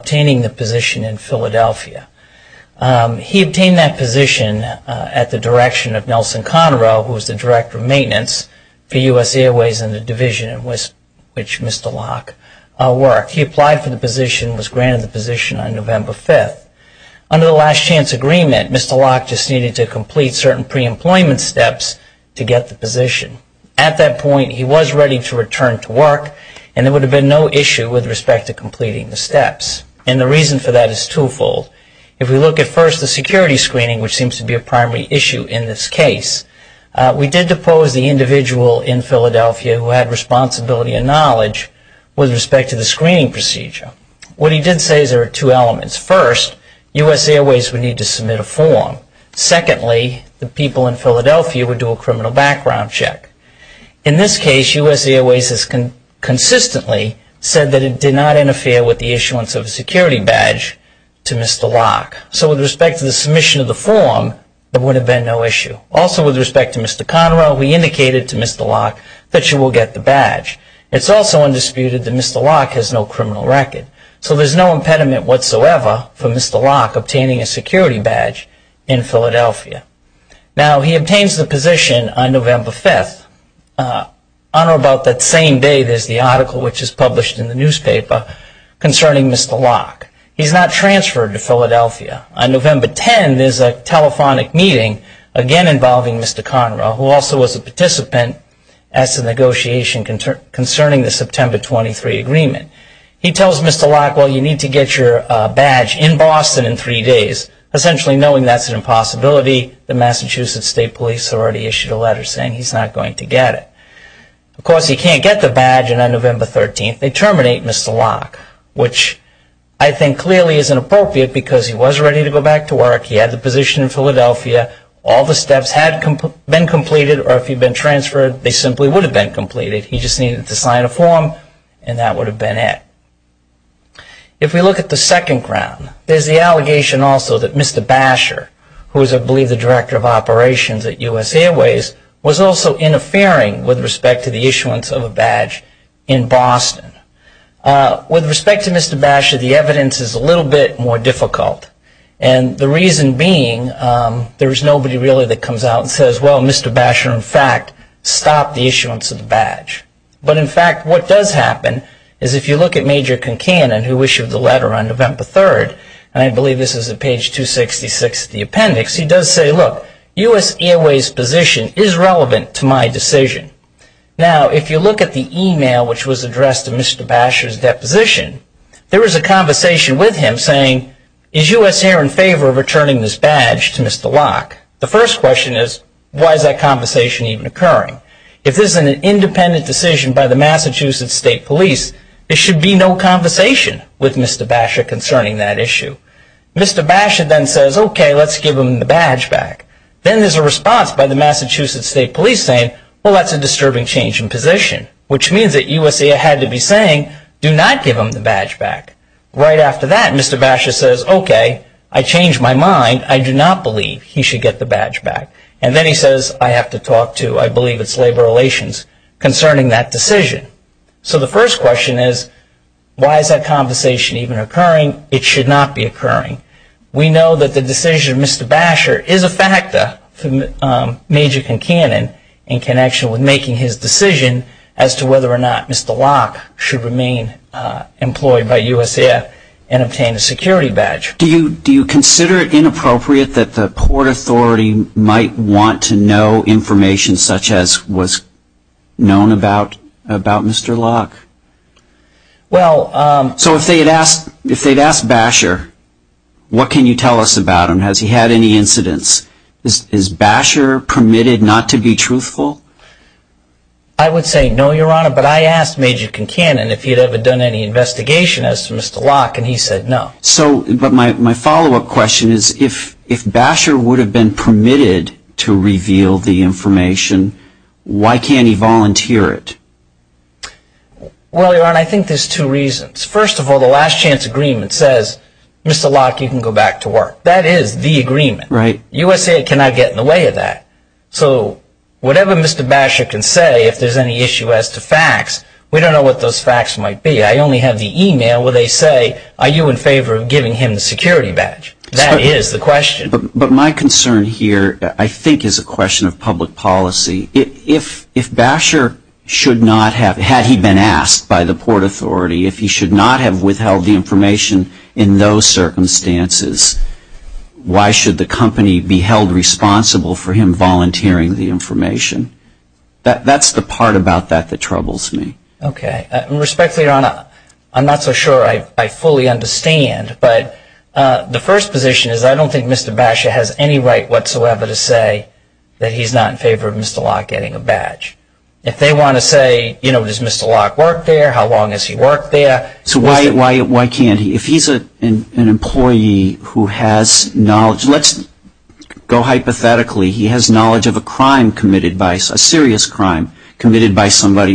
obtaining the position in Philadelphia. He obtained that position at the direction of Nelson Conroe, who was the Director of Maintenance for US Airways and the division in which Mr. Locke worked. He applied for the position and was granted the position on November 5th. Under the last chance agreement, Mr. Locke just needed to complete certain pre-employment steps to get the position. At that point, he was ready to return to work and there would have been no issue with respect to completing the steps, and the reason for that is twofold. If we look at first the security screening, which seems to be a primary issue in this case, we did depose the individual in Philadelphia who had responsibility and knowledge with respect to the screening procedure. What he did say is there are two elements. First, US Airways would need to submit a form. Secondly, the people in Philadelphia would do a criminal background check. In this case, US Airways has consistently said that it did not interfere with the issuance of a security badge to Mr. Locke. So with respect to the submission of the form, there would have been no issue. Also with respect to Mr. Conroe, we indicated to Mr. Locke that you will get the badge. It's also undisputed that Mr. Locke has no criminal record. So there's no impediment whatsoever for Mr. Locke obtaining a security badge in Philadelphia. Now, he obtains the position on November 5th, on or about that same day there's the article which is published in the newspaper concerning Mr. Locke. He's not transferred to Philadelphia. On November 10, there's a telephonic meeting, again involving Mr. Conroe, who also was a participant as to the negotiation concerning the September 23 agreement. He tells Mr. Locke, well, you need to get your badge in Boston in three days, essentially knowing that's an impossibility. The Massachusetts State Police already issued a letter saying he's not going to get it. Of course, he can't get the badge on November 13. They terminate Mr. Locke, which I think clearly isn't appropriate because he was ready to go back to work. He had the position in Philadelphia. All the steps had been completed or if he'd been transferred, they simply would have been completed. He just needed to sign a form and that would have been it. If we look at the second ground, there's the allegation also that Mr. Basher, who is I believe the Director of Operations at U.S. Airways, was also interfering with respect to the issuance of a badge in Boston. With respect to Mr. Basher, the evidence is a little bit more difficult and the reason being there's nobody really that comes out and says, well, Mr. Basher, in fact, stopped the issuance of the badge. But in fact, what does happen is if you look at Major Concanon, who issued the letter on November 3rd, and I believe this is at page 266 of the appendix, he does say, look, U.S. Airways' position is relevant to my decision. Now, if you look at the email which was addressed to Mr. Basher's deposition, there was a conversation with him saying, is U.S. Airways in favor of returning this badge to Mr. Locke? The first question is, why is that conversation even occurring? If this is an independent decision by the Massachusetts State Police, there should be no conversation with Mr. Basher concerning that issue. Mr. Basher then says, OK, let's give him the badge back. Then there's a response by the Massachusetts State Police saying, well, that's a disturbing change in position, which means that U.S. Airways had to be saying, do not give him the badge back. Right after that, Mr. Basher says, OK, I changed my mind. I do not believe he should get the badge back. And then he says, I have to talk to you. I don't believe it's labor relations concerning that decision. So the first question is, why is that conversation even occurring? It should not be occurring. We know that the decision of Mr. Basher is a factor, major and canon, in connection with making his decision as to whether or not Mr. Locke should remain employed by USAF and obtain a security badge. Do you consider it inappropriate that the Port Authority might want to know information such as was known about Mr. Locke? So if they had asked Basher, what can you tell us about him? Has he had any incidents? Is Basher permitted not to be truthful? I would say no, Your Honor. But I asked Major Kincannon if he'd ever done any investigation as to Mr. Locke, and he said no. So my follow-up question is, if Basher would have been permitted to reveal the information, why can't he volunteer it? Well, Your Honor, I think there's two reasons. First of all, the last chance agreement says, Mr. Locke, you can go back to work. That is the agreement. Right. USAF cannot get in the way of that. So whatever Mr. Basher can say, if there's any issue as to facts, we don't know what those facts might be. I only have the email where they say, are you in favor of giving him the security badge? That is the question. But my concern here, I think, is a question of public policy. If Basher should not have, had he been asked by the Port Authority, if he should not have withheld the information in those circumstances, why should the company be held responsible for him volunteering the information? That's the part about that that troubles me. Okay. And respectfully, Your Honor, I'm not so sure I fully understand, but the first position is I don't think Mr. Basher has any right whatsoever to say that he's not in favor of Mr. Locke getting a badge. If they want to say, you know, does Mr. Locke work there? How long has he worked there? So why can't he? If he's an employee who has knowledge, let's go hypothetically, he has knowledge of a crime committed by somebody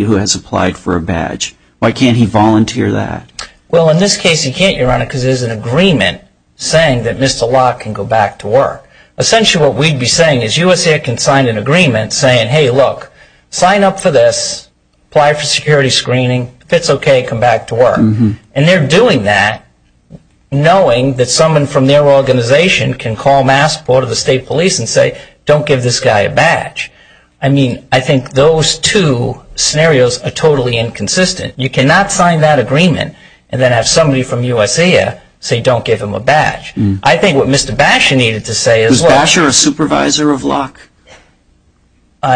who has applied for a badge. Why can't he volunteer that? Well, in this case, he can't, Your Honor, because there's an agreement saying that Mr. Locke can go back to work. Essentially what we'd be saying is USA can sign an agreement saying, hey, look, sign up for this, apply for security screening, if it's okay, come back to work. And they're doing that knowing that someone from their organization can call Massport of the state police and say, don't give this guy a badge. I mean, I think those two scenarios are totally inconsistent. You cannot sign that agreement and then have somebody from USA say, don't give him a badge. I think what Mr. Basher needed to say is, was Basher a supervisor of Locke?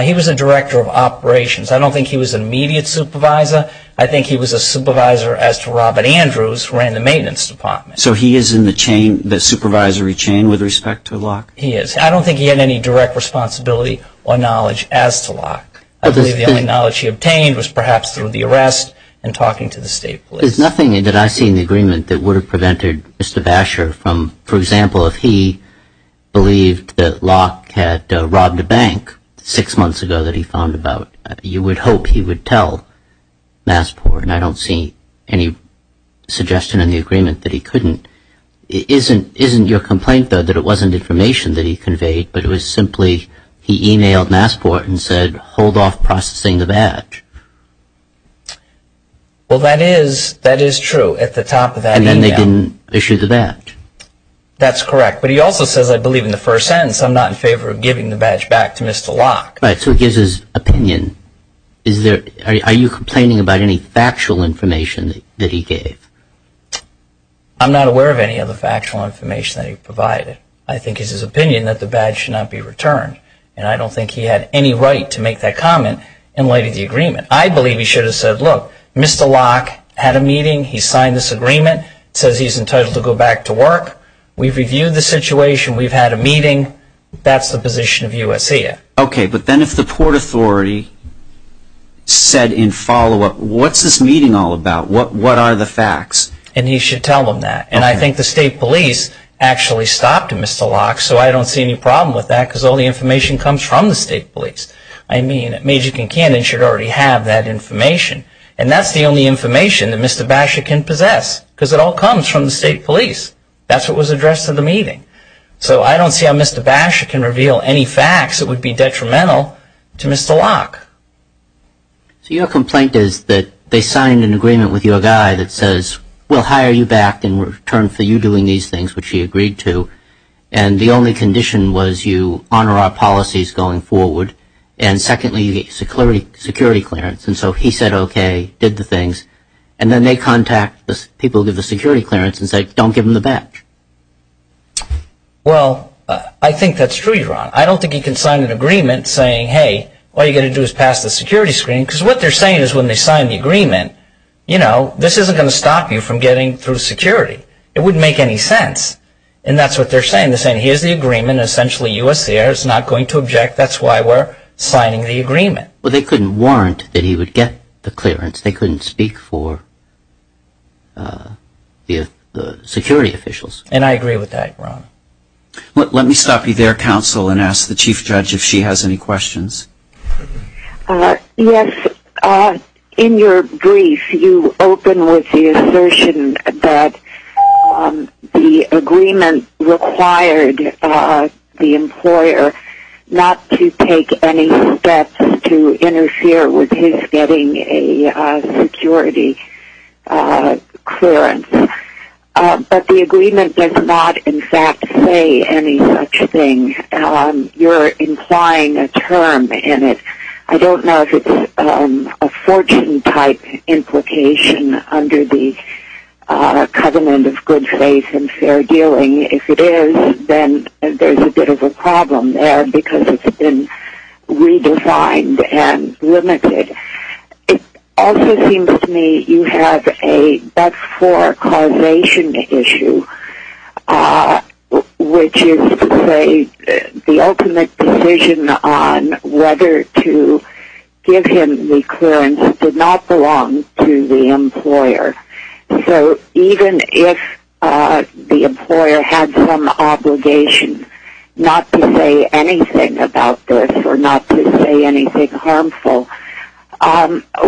He was a director of operations. I don't think he was an immediate supervisor. I think he was a supervisor as to Robert Andrews ran the maintenance department. So he is in the chain, the supervisory chain with respect to Locke? He is. I don't think he had any direct responsibility or knowledge as to Locke. I believe the only knowledge he obtained was perhaps through the arrest and talking to the state police. There's nothing that I see in the agreement that would have prevented Mr. Basher from, for example, if he believed that Locke had robbed a bank six months ago that he found about, you would hope he would tell Massport. And I don't see any suggestion in the agreement that he couldn't. Isn't your complaint, though, that it wasn't information that he conveyed, but it was simply he emailed Massport and said, hold off processing the badge? Well, that is true at the top of that email. And then they didn't issue the badge? That's correct. But he also says, I believe in the first sentence, I'm not in favor of giving the badge back to Mr. Locke. Right. So it gives his opinion. Are you complaining about any factual information that he gave? I'm not aware of any other factual information that he provided. I think it's his opinion that the badge should not be returned. And I don't think he had any right to make that comment in light of the agreement. I believe he should have said, look, Mr. Locke had a meeting. He signed this agreement. It says he's entitled to go back to work. We've reviewed the situation. We've had a meeting. That's the position of U.S.A. Okay. But then if the Port Authority said in follow-up, what's this meeting all about? What are the facts? And he should tell them that. And I think the state police actually stopped Mr. Locke. So I don't see any problem with that, because all the information comes from the state police. I mean, Major Kincaid should already have that information. And that's the only information that Mr. Basha can possess, because it all comes from the state police. That's what was addressed in the meeting. So I don't see how Mr. Basha can reveal any facts that would be detrimental to Mr. Locke. So your complaint is that they signed an agreement with your guy that says, we'll hire you back in return for you doing these things, which he agreed to. And the only condition was you honor our policies going forward. And secondly, you get security clearance. And so he said, okay, did the things. And then they contact the people who give the security clearance and say, don't give them the back. Well, I think that's true, Ron. I don't think he can sign an agreement saying, hey, all you've got to do is pass the security screening. Because what they're saying is when they sign the agreement, you know, this isn't going to stop you from getting through security. It wouldn't make any sense. And that's what they're saying. They're saying, here's the agreement. Essentially, USCIR is not going to object. That's why we're signing the agreement. Well, they couldn't warrant that he would get the clearance. They couldn't speak for the security officials. And I agree with that, Ron. Let me stop you there, Counsel, and ask the Chief Judge if she has any questions. Yes. In your brief, you open with the assertion that the agreement required the employer not to take any steps to interfere with his getting a security clearance. But the agreement does not, in fact, say any such thing. You're implying a term in it. I don't know if it's a fortune-type implication under the covenant of good faith and fair dealing. If it is, then there's a bit of a problem there because it's been redefined and limited. It also seems to me you have a but-for causation issue, which is to say the ultimate decision on whether to give him the clearance did not belong to the employer. So even if the employer had some obligation not to say anything about this or not to say anything harmful,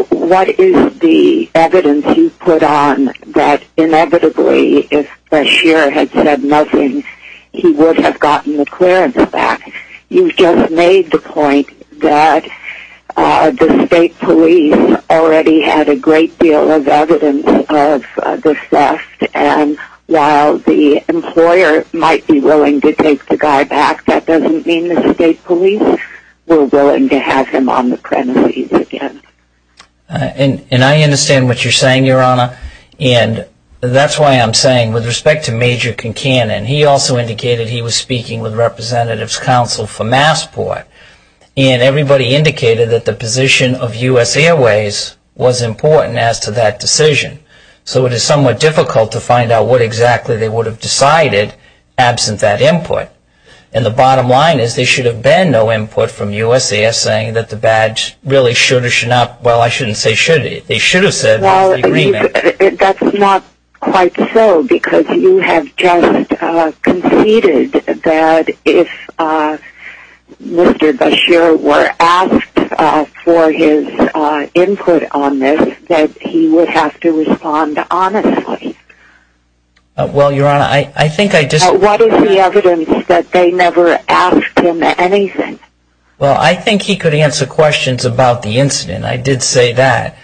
what is the evidence you put on that inevitably, if Bashir had said nothing, he would have gotten the clearance back? You've just made the point that the state police already had a great deal of evidence of the theft, and while the employer might be willing to take the guy back, that doesn't mean the state police were willing to have him on the premises again. And I understand what you're saying, Your Honor. And that's why I'm saying, with respect to Major Kincannon, he also indicated he was speaking with Representatives Counsel for Massport, and everybody indicated that the position of U.S. Airways was important as to that decision. So it is somewhat difficult to find out what exactly they would have decided absent that input. And the bottom line is, there should have been no input from U.S. Airways saying that the badge really should or should not, well, I shouldn't say should, they should have said the agreement. Well, that's not quite so, because you have just conceded that if Mr. Bashir were asked for his input on this, that he would have to respond honestly. Well, Your Honor, I think I just What is the evidence that they never asked him anything? Well, I think he could answer questions about the incident. I did say that.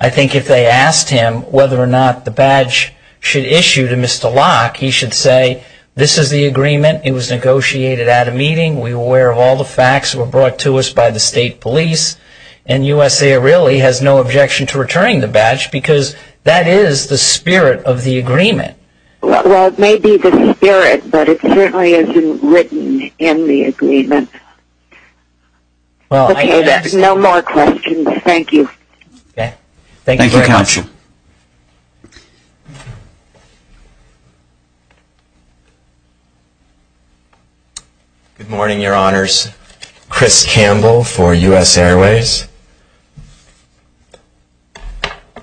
I think if they asked him whether or not the badge should issue to Mr. Locke, he should say, this is the agreement, it was negotiated at a meeting, we were aware of all the facts, it was brought to us by the state police, and U.S. Airways really has no objection to returning the badge, because that is the spirit of the agreement. Well, it may be the spirit, but it certainly isn't written in the agreement. Okay, then, no more questions. Thank you. Thank you, Counsel. Good morning, Your Honors. Chris Campbell for U.S. Airways.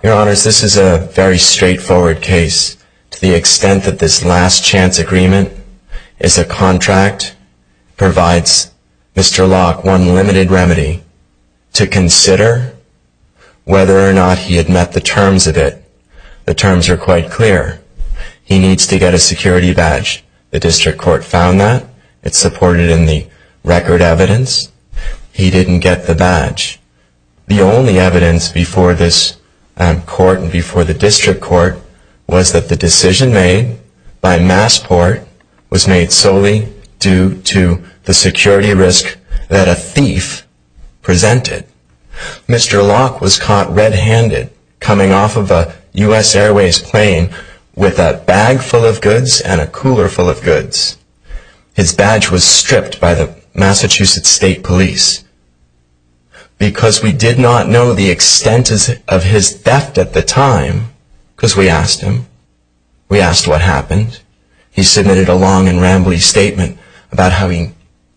Your Honors, this is a very straightforward case. To the extent that this last chance agreement is a contract provides Mr. Locke one limited remedy to consider whether or not he had met the terms of it. The terms are quite clear. He needs to get a security badge. The district court found that. It's supported in the record evidence. He didn't get the badge. The only evidence before this court and before the district court was that the decision made by Massport was made solely due to the security risk that a thief presented. Mr. Locke was caught red-handed coming off of a U.S. Airways plane with a bag full of His badge was stripped by the Massachusetts State Police. Because we did not know the extent of his theft at the time, because we asked him. We asked what happened. He submitted a long and rambly statement about having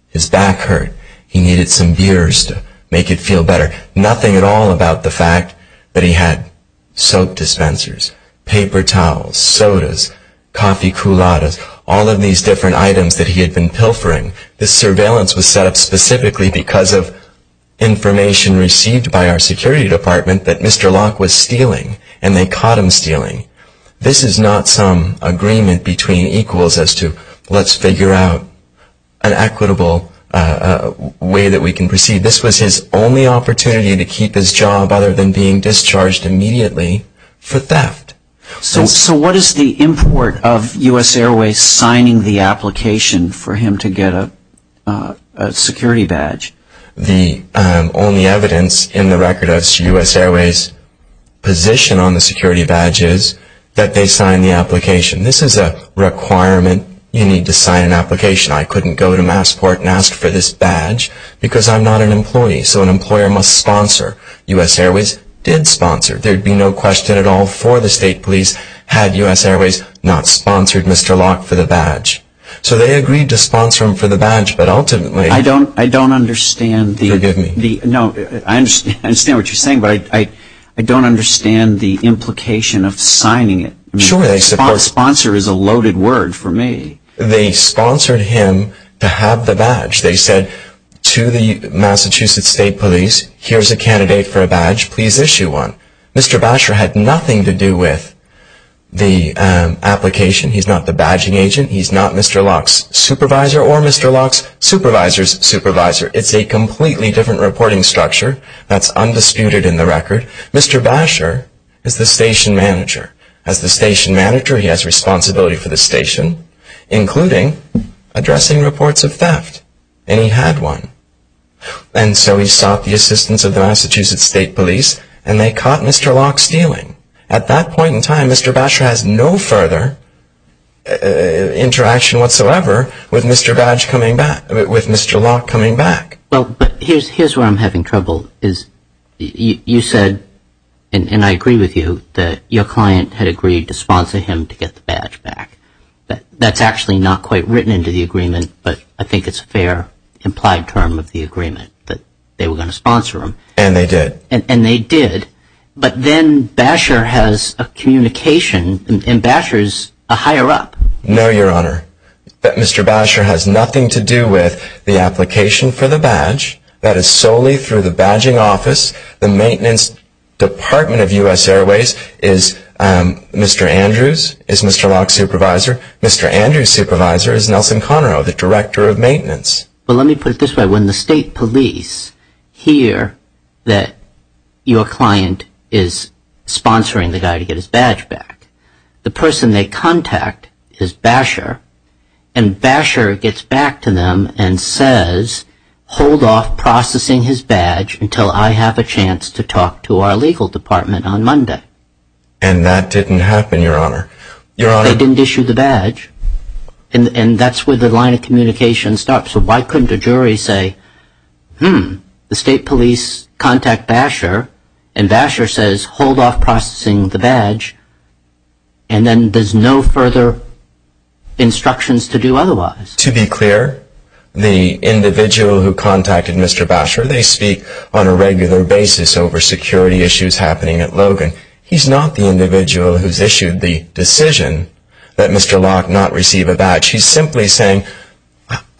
his back hurt. He needed some beers to make it feel better. Nothing at all about the fact that he had soap dispensers, paper towels, sodas, coffee couladas, all of these different items that he had been pilfering. This surveillance was set up specifically because of information received by our security department that Mr. Locke was stealing. And they caught him stealing. This is not some agreement between equals as to let's figure out an equitable way that we can proceed. This was his only opportunity to keep his job other than being discharged immediately for theft. So what is the import of U.S. Airways signing the application for him to get a security badge? The only evidence in the record of U.S. Airways' position on the security badge is that they signed the application. This is a requirement. You need to sign an application. I couldn't go to Massport and ask for this badge because I'm not an employee. So an employer must sponsor. U.S. Airways did sponsor. There would be no question at all for the state police had U.S. Airways not sponsored Mr. Locke for the badge. So they agreed to sponsor him for the badge, but ultimately- I don't understand the- Forgive me. No, I understand what you're saying, but I don't understand the implication of signing it. Sure, they support- Sponsor is a loaded word for me. They sponsored him to have the badge. They said to the Massachusetts State Police, here's a candidate for a badge, please issue one. Mr. Basher had nothing to do with the application. He's not the badging agent. He's not Mr. Locke's supervisor or Mr. Locke's supervisor's supervisor. It's a completely different reporting structure. That's undisputed in the record. Mr. Basher is the station manager. As the station manager, he has responsibility for the station, including addressing reports of theft, and he had one. And so he sought the assistance of the Massachusetts State Police, and they caught Mr. Locke stealing. At that point in time, Mr. Basher has no further interaction whatsoever with Mr. Locke coming back. Well, but here's where I'm having trouble, is you said, and I agree with you, that your client had agreed to sponsor him to get the badge back. That's actually not quite written into the agreement, but I think it's a fair implied term of the agreement, that they were going to sponsor him. And they did. And they did. But then Basher has a communication, and Basher's a higher up. No, Your Honor. Mr. Basher has nothing to do with the application for the badge. That is solely through the badging office. The maintenance department of U.S. Airways is Mr. Andrews, is Mr. Locke's supervisor. Mr. Andrews' supervisor is Nelson Conroe, the director of maintenance. Well, let me put it this way. hear that your client is sponsoring the guy to get his badge back. The person they contact is Basher, and Basher gets back to them and says, hold off processing his badge until I have a chance to talk to our legal department on Monday. And that didn't happen, Your Honor. They didn't issue the badge. And that's where the line of communication stops. So why couldn't a jury say, hmm, the state police contact Basher, and Basher says, hold off processing the badge, and then there's no further instructions to do otherwise? To be clear, the individual who contacted Mr. Basher, they speak on a regular basis over security issues happening at Logan. He's not the individual who's issued the decision that Mr. Locke not receive a badge. He's simply saying,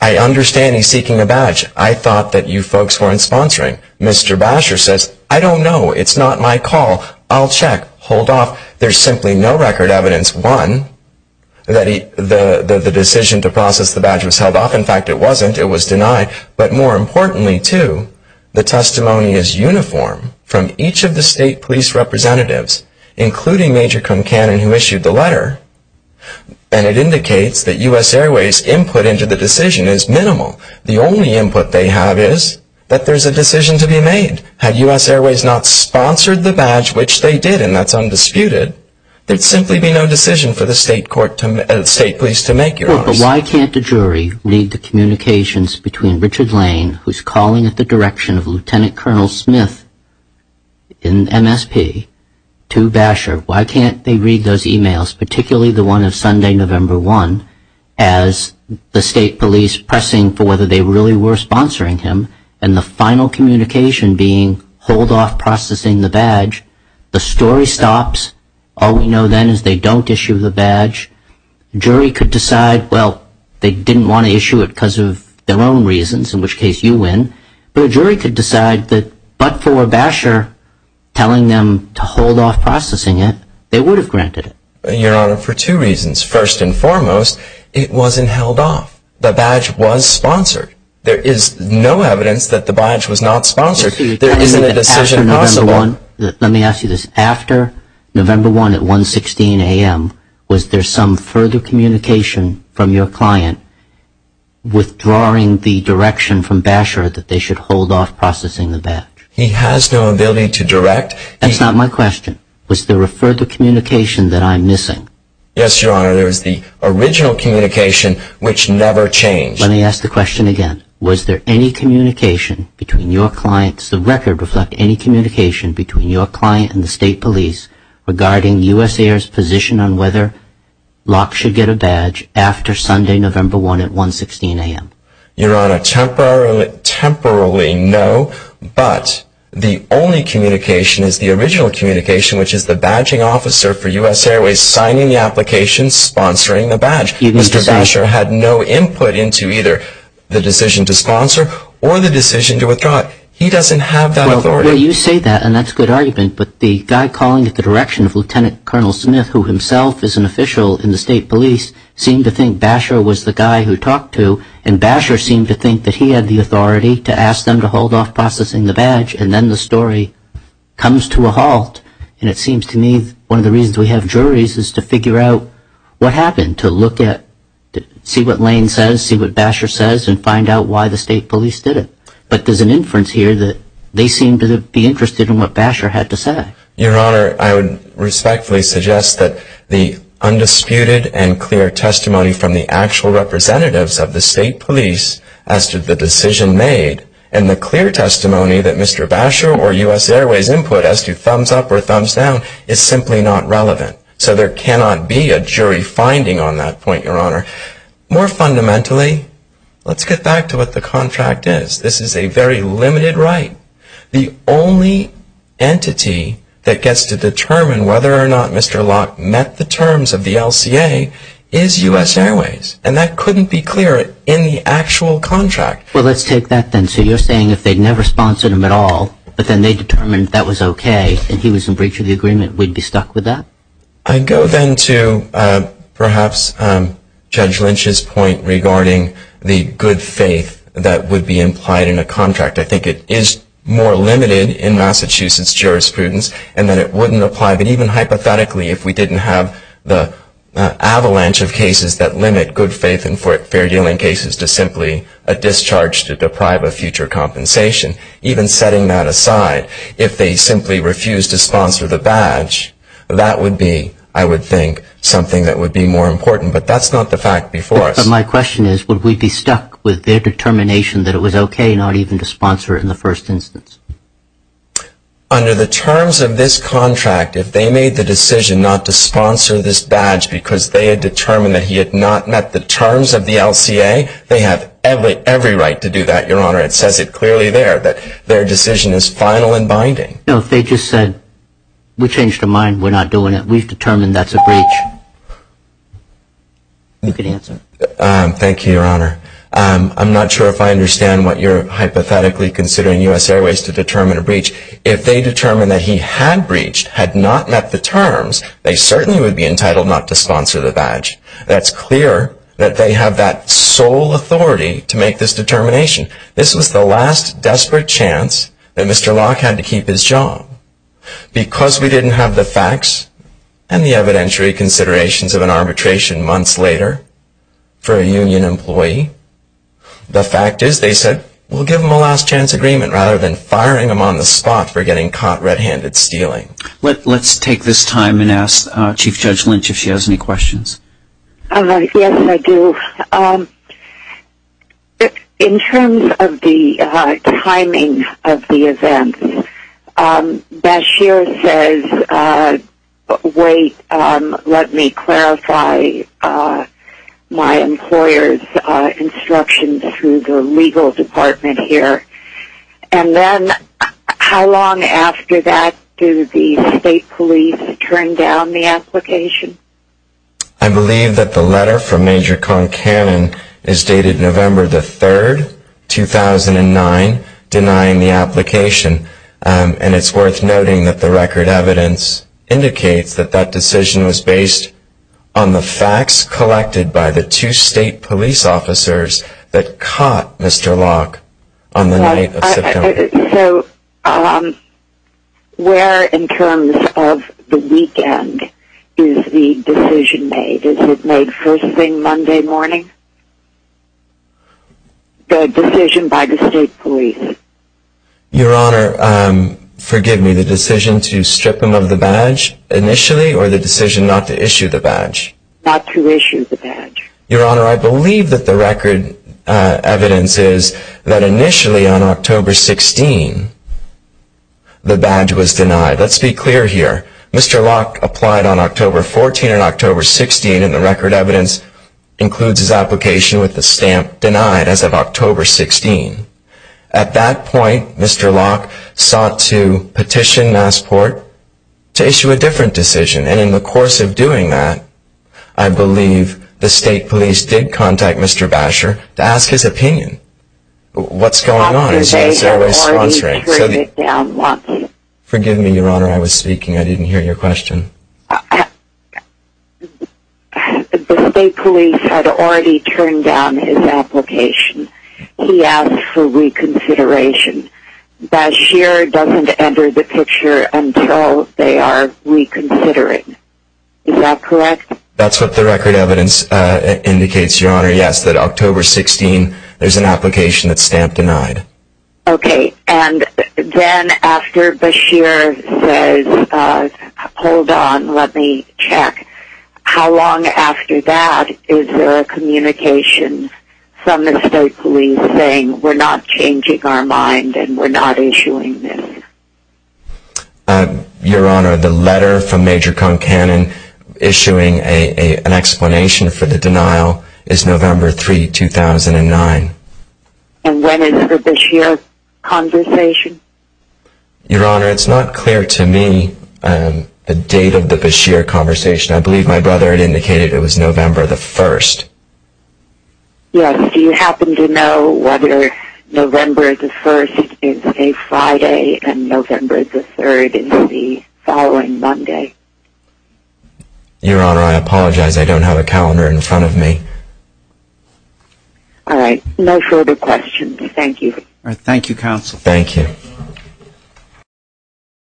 I understand he's seeking a badge. I thought that you folks weren't sponsoring. Mr. Basher says, I don't know. It's not my call. I'll check. Hold off. There's simply no record evidence, one, that the decision to process the badge was held off. In fact, it wasn't. It was denied. But more importantly, too, the testimony is uniform from each of the state police representatives, including Major Concanon, who issued the letter. And it indicates that U.S. Airways' input into the decision is minimal. The only input they have is that there's a decision to be made. Had U.S. Airways not sponsored the badge, which they did, and that's undisputed, there'd simply be no decision for the state police to make, Your Honor. Sure, but why can't a jury read the communications between Richard Lane, who's calling at the direction of Lieutenant Colonel Smith in MSP, to Basher? Why can't they read those e-mails, particularly the one of Sunday, November 1, as the state police pressing for whether they really were sponsoring him? And the final communication being, hold off processing the badge. The story stops. All we know then is they don't issue the badge. The jury could decide, well, they didn't want to issue it because of their own reasons, in which case you win. But a jury could decide that but for Basher telling them to hold off processing it, they would have granted it. Your Honor, for two reasons. First and foremost, it wasn't held off. The badge was sponsored. There is no evidence that the badge was not sponsored. There isn't a decision possible. Let me ask you this. After November 1 at 116 a.m., was there some further communication from your client withdrawing the direction from Basher that they should hold off processing the badge? He has no ability to direct. That's not my question. Was there a further communication that I'm missing? Yes, Your Honor. There was the original communication, which never changed. Let me ask the question again. Was there any communication between your clients? Does the record reflect any communication between your client and the state police regarding US Air's position on whether LOC should get a badge after Sunday, November 1 at 116 a.m.? Your Honor, temporarily, no. But the only communication is the original communication, which is the badging officer for US Airways signing the application, sponsoring the badge. Mr. Basher had no input into either the decision to sponsor or the decision to withdraw it. He doesn't have that authority. Well, you say that, and that's a good argument. But the guy calling it the direction of Lieutenant Colonel Smith, who himself is an official in the state police, seemed to think Basher was the guy who talked to. And Basher seemed to think that he had the authority to ask them to hold off processing the badge. And then the story comes to a halt. And it seems to me one of the reasons we have juries is to figure out what happened, to look at, see what Lane says, see what Basher says, and find out why the state police did it. But there's an inference here that they seemed to be interested in what Basher had to say. Your Honor, I would respectfully suggest that the undisputed and clear testimony from the actual representatives of the state police as to the decision made, and the clear testimony that Mr. Basher or US Airways input as to thumbs up or thumbs down, is simply not relevant. So there cannot be a jury finding on that point, Your Honor. More fundamentally, let's get back to what the contract is. This is a very limited right. The only entity that gets to determine whether or not Mr. Locke met the terms of the LCA is US Airways. And that couldn't be clearer in the actual contract. Well, let's take that then. So you're saying if they'd never sponsored him at all, but then they determined that was okay, and he was in breach of the agreement, we'd be stuck with that? I'd go then to perhaps Judge Lynch's point regarding the good faith that would be implied in a contract. I think it is more limited in Massachusetts jurisprudence, and that it wouldn't apply. But even hypothetically, if we didn't have the avalanche of cases that limit good faith and fair dealing cases to simply a discharge to deprive of future compensation, even setting that aside, if they simply refused to sponsor the badge, that would be, I would think, something that would be more important. But that's not the fact before us. But my question is, would we be stuck with their determination that it was okay not even to sponsor it in the first instance? Under the terms of this contract, if they made the decision not to sponsor this badge because they had determined that he had not met the terms of the LCA, they have every right to do that, Your Honor. It says it clearly there that their decision is final and binding. No, if they just said, we changed our mind, we're not doing it, we've determined that's a breach. You can answer. Thank you, Your Honor. I'm not sure if I understand what you're hypothetically considering U.S. Airways to determine a breach. If they determined that he had breached, had not met the terms, they certainly would be entitled not to sponsor the badge. That's clear that they have that sole authority to make this determination. This was the last desperate chance that Mr. Locke had to keep his job. Because we didn't have the facts and the evidentiary considerations of an arbitration months later for a union employee, the fact is they said we'll give him a last chance agreement rather than firing him on the spot for getting caught red-handed stealing. Let's take this time and ask Chief Judge Lynch if she has any questions. Yes, I do. In terms of the timing of the event, Bashir says, wait, let me clarify my employer's instructions through the legal department here. And then how long after that do the state police turn down the application? I believe that the letter from Major Conkannon is dated November the 3rd, 2009, denying the application. And it's worth noting that the record evidence indicates that that decision was based on the facts collected by the two state police officers that caught Mr. Locke on the night of September. So where in terms of the weekend is the decision made? Is it made first thing Monday morning? The decision by the state police. Your Honor, forgive me, the decision to strip him of the badge initially or the decision not to issue the badge? Not to issue the badge. Your Honor, I believe that the record evidence is that initially on October 16, the badge was denied. Let's be clear here. Mr. Locke applied on October 14 and October 16, and the record evidence includes his application with the stamp denied as of October 16. At that point, Mr. Locke sought to petition Massport to issue a different decision. And in the course of doing that, I believe the state police did contact Mr. Basher to ask his opinion. What's going on? The state police had already turned down his application. He asked for reconsideration. Basher doesn't enter the picture until they are reconsidering. Is that correct? That's what the record evidence indicates, Your Honor. Yes, that October 16, there's an application that's stamped denied. Okay. And then after Basher says, hold on, let me check. How long after that is there a communication from the state police saying we're not changing our mind and we're not issuing this? Your Honor, the letter from Major Concanon issuing an explanation for the denial is November 3, 2009. And when is the Basher conversation? Your Honor, it's not clear to me the date of the Basher conversation. I believe my brother had indicated it was November the 1st. Yes. Do you happen to know whether November the 1st is a Friday and November the 3rd is the following Monday? Your Honor, I apologize. I don't have a calendar in front of me. No further questions. Thank you. Thank you, Counsel. Thank you.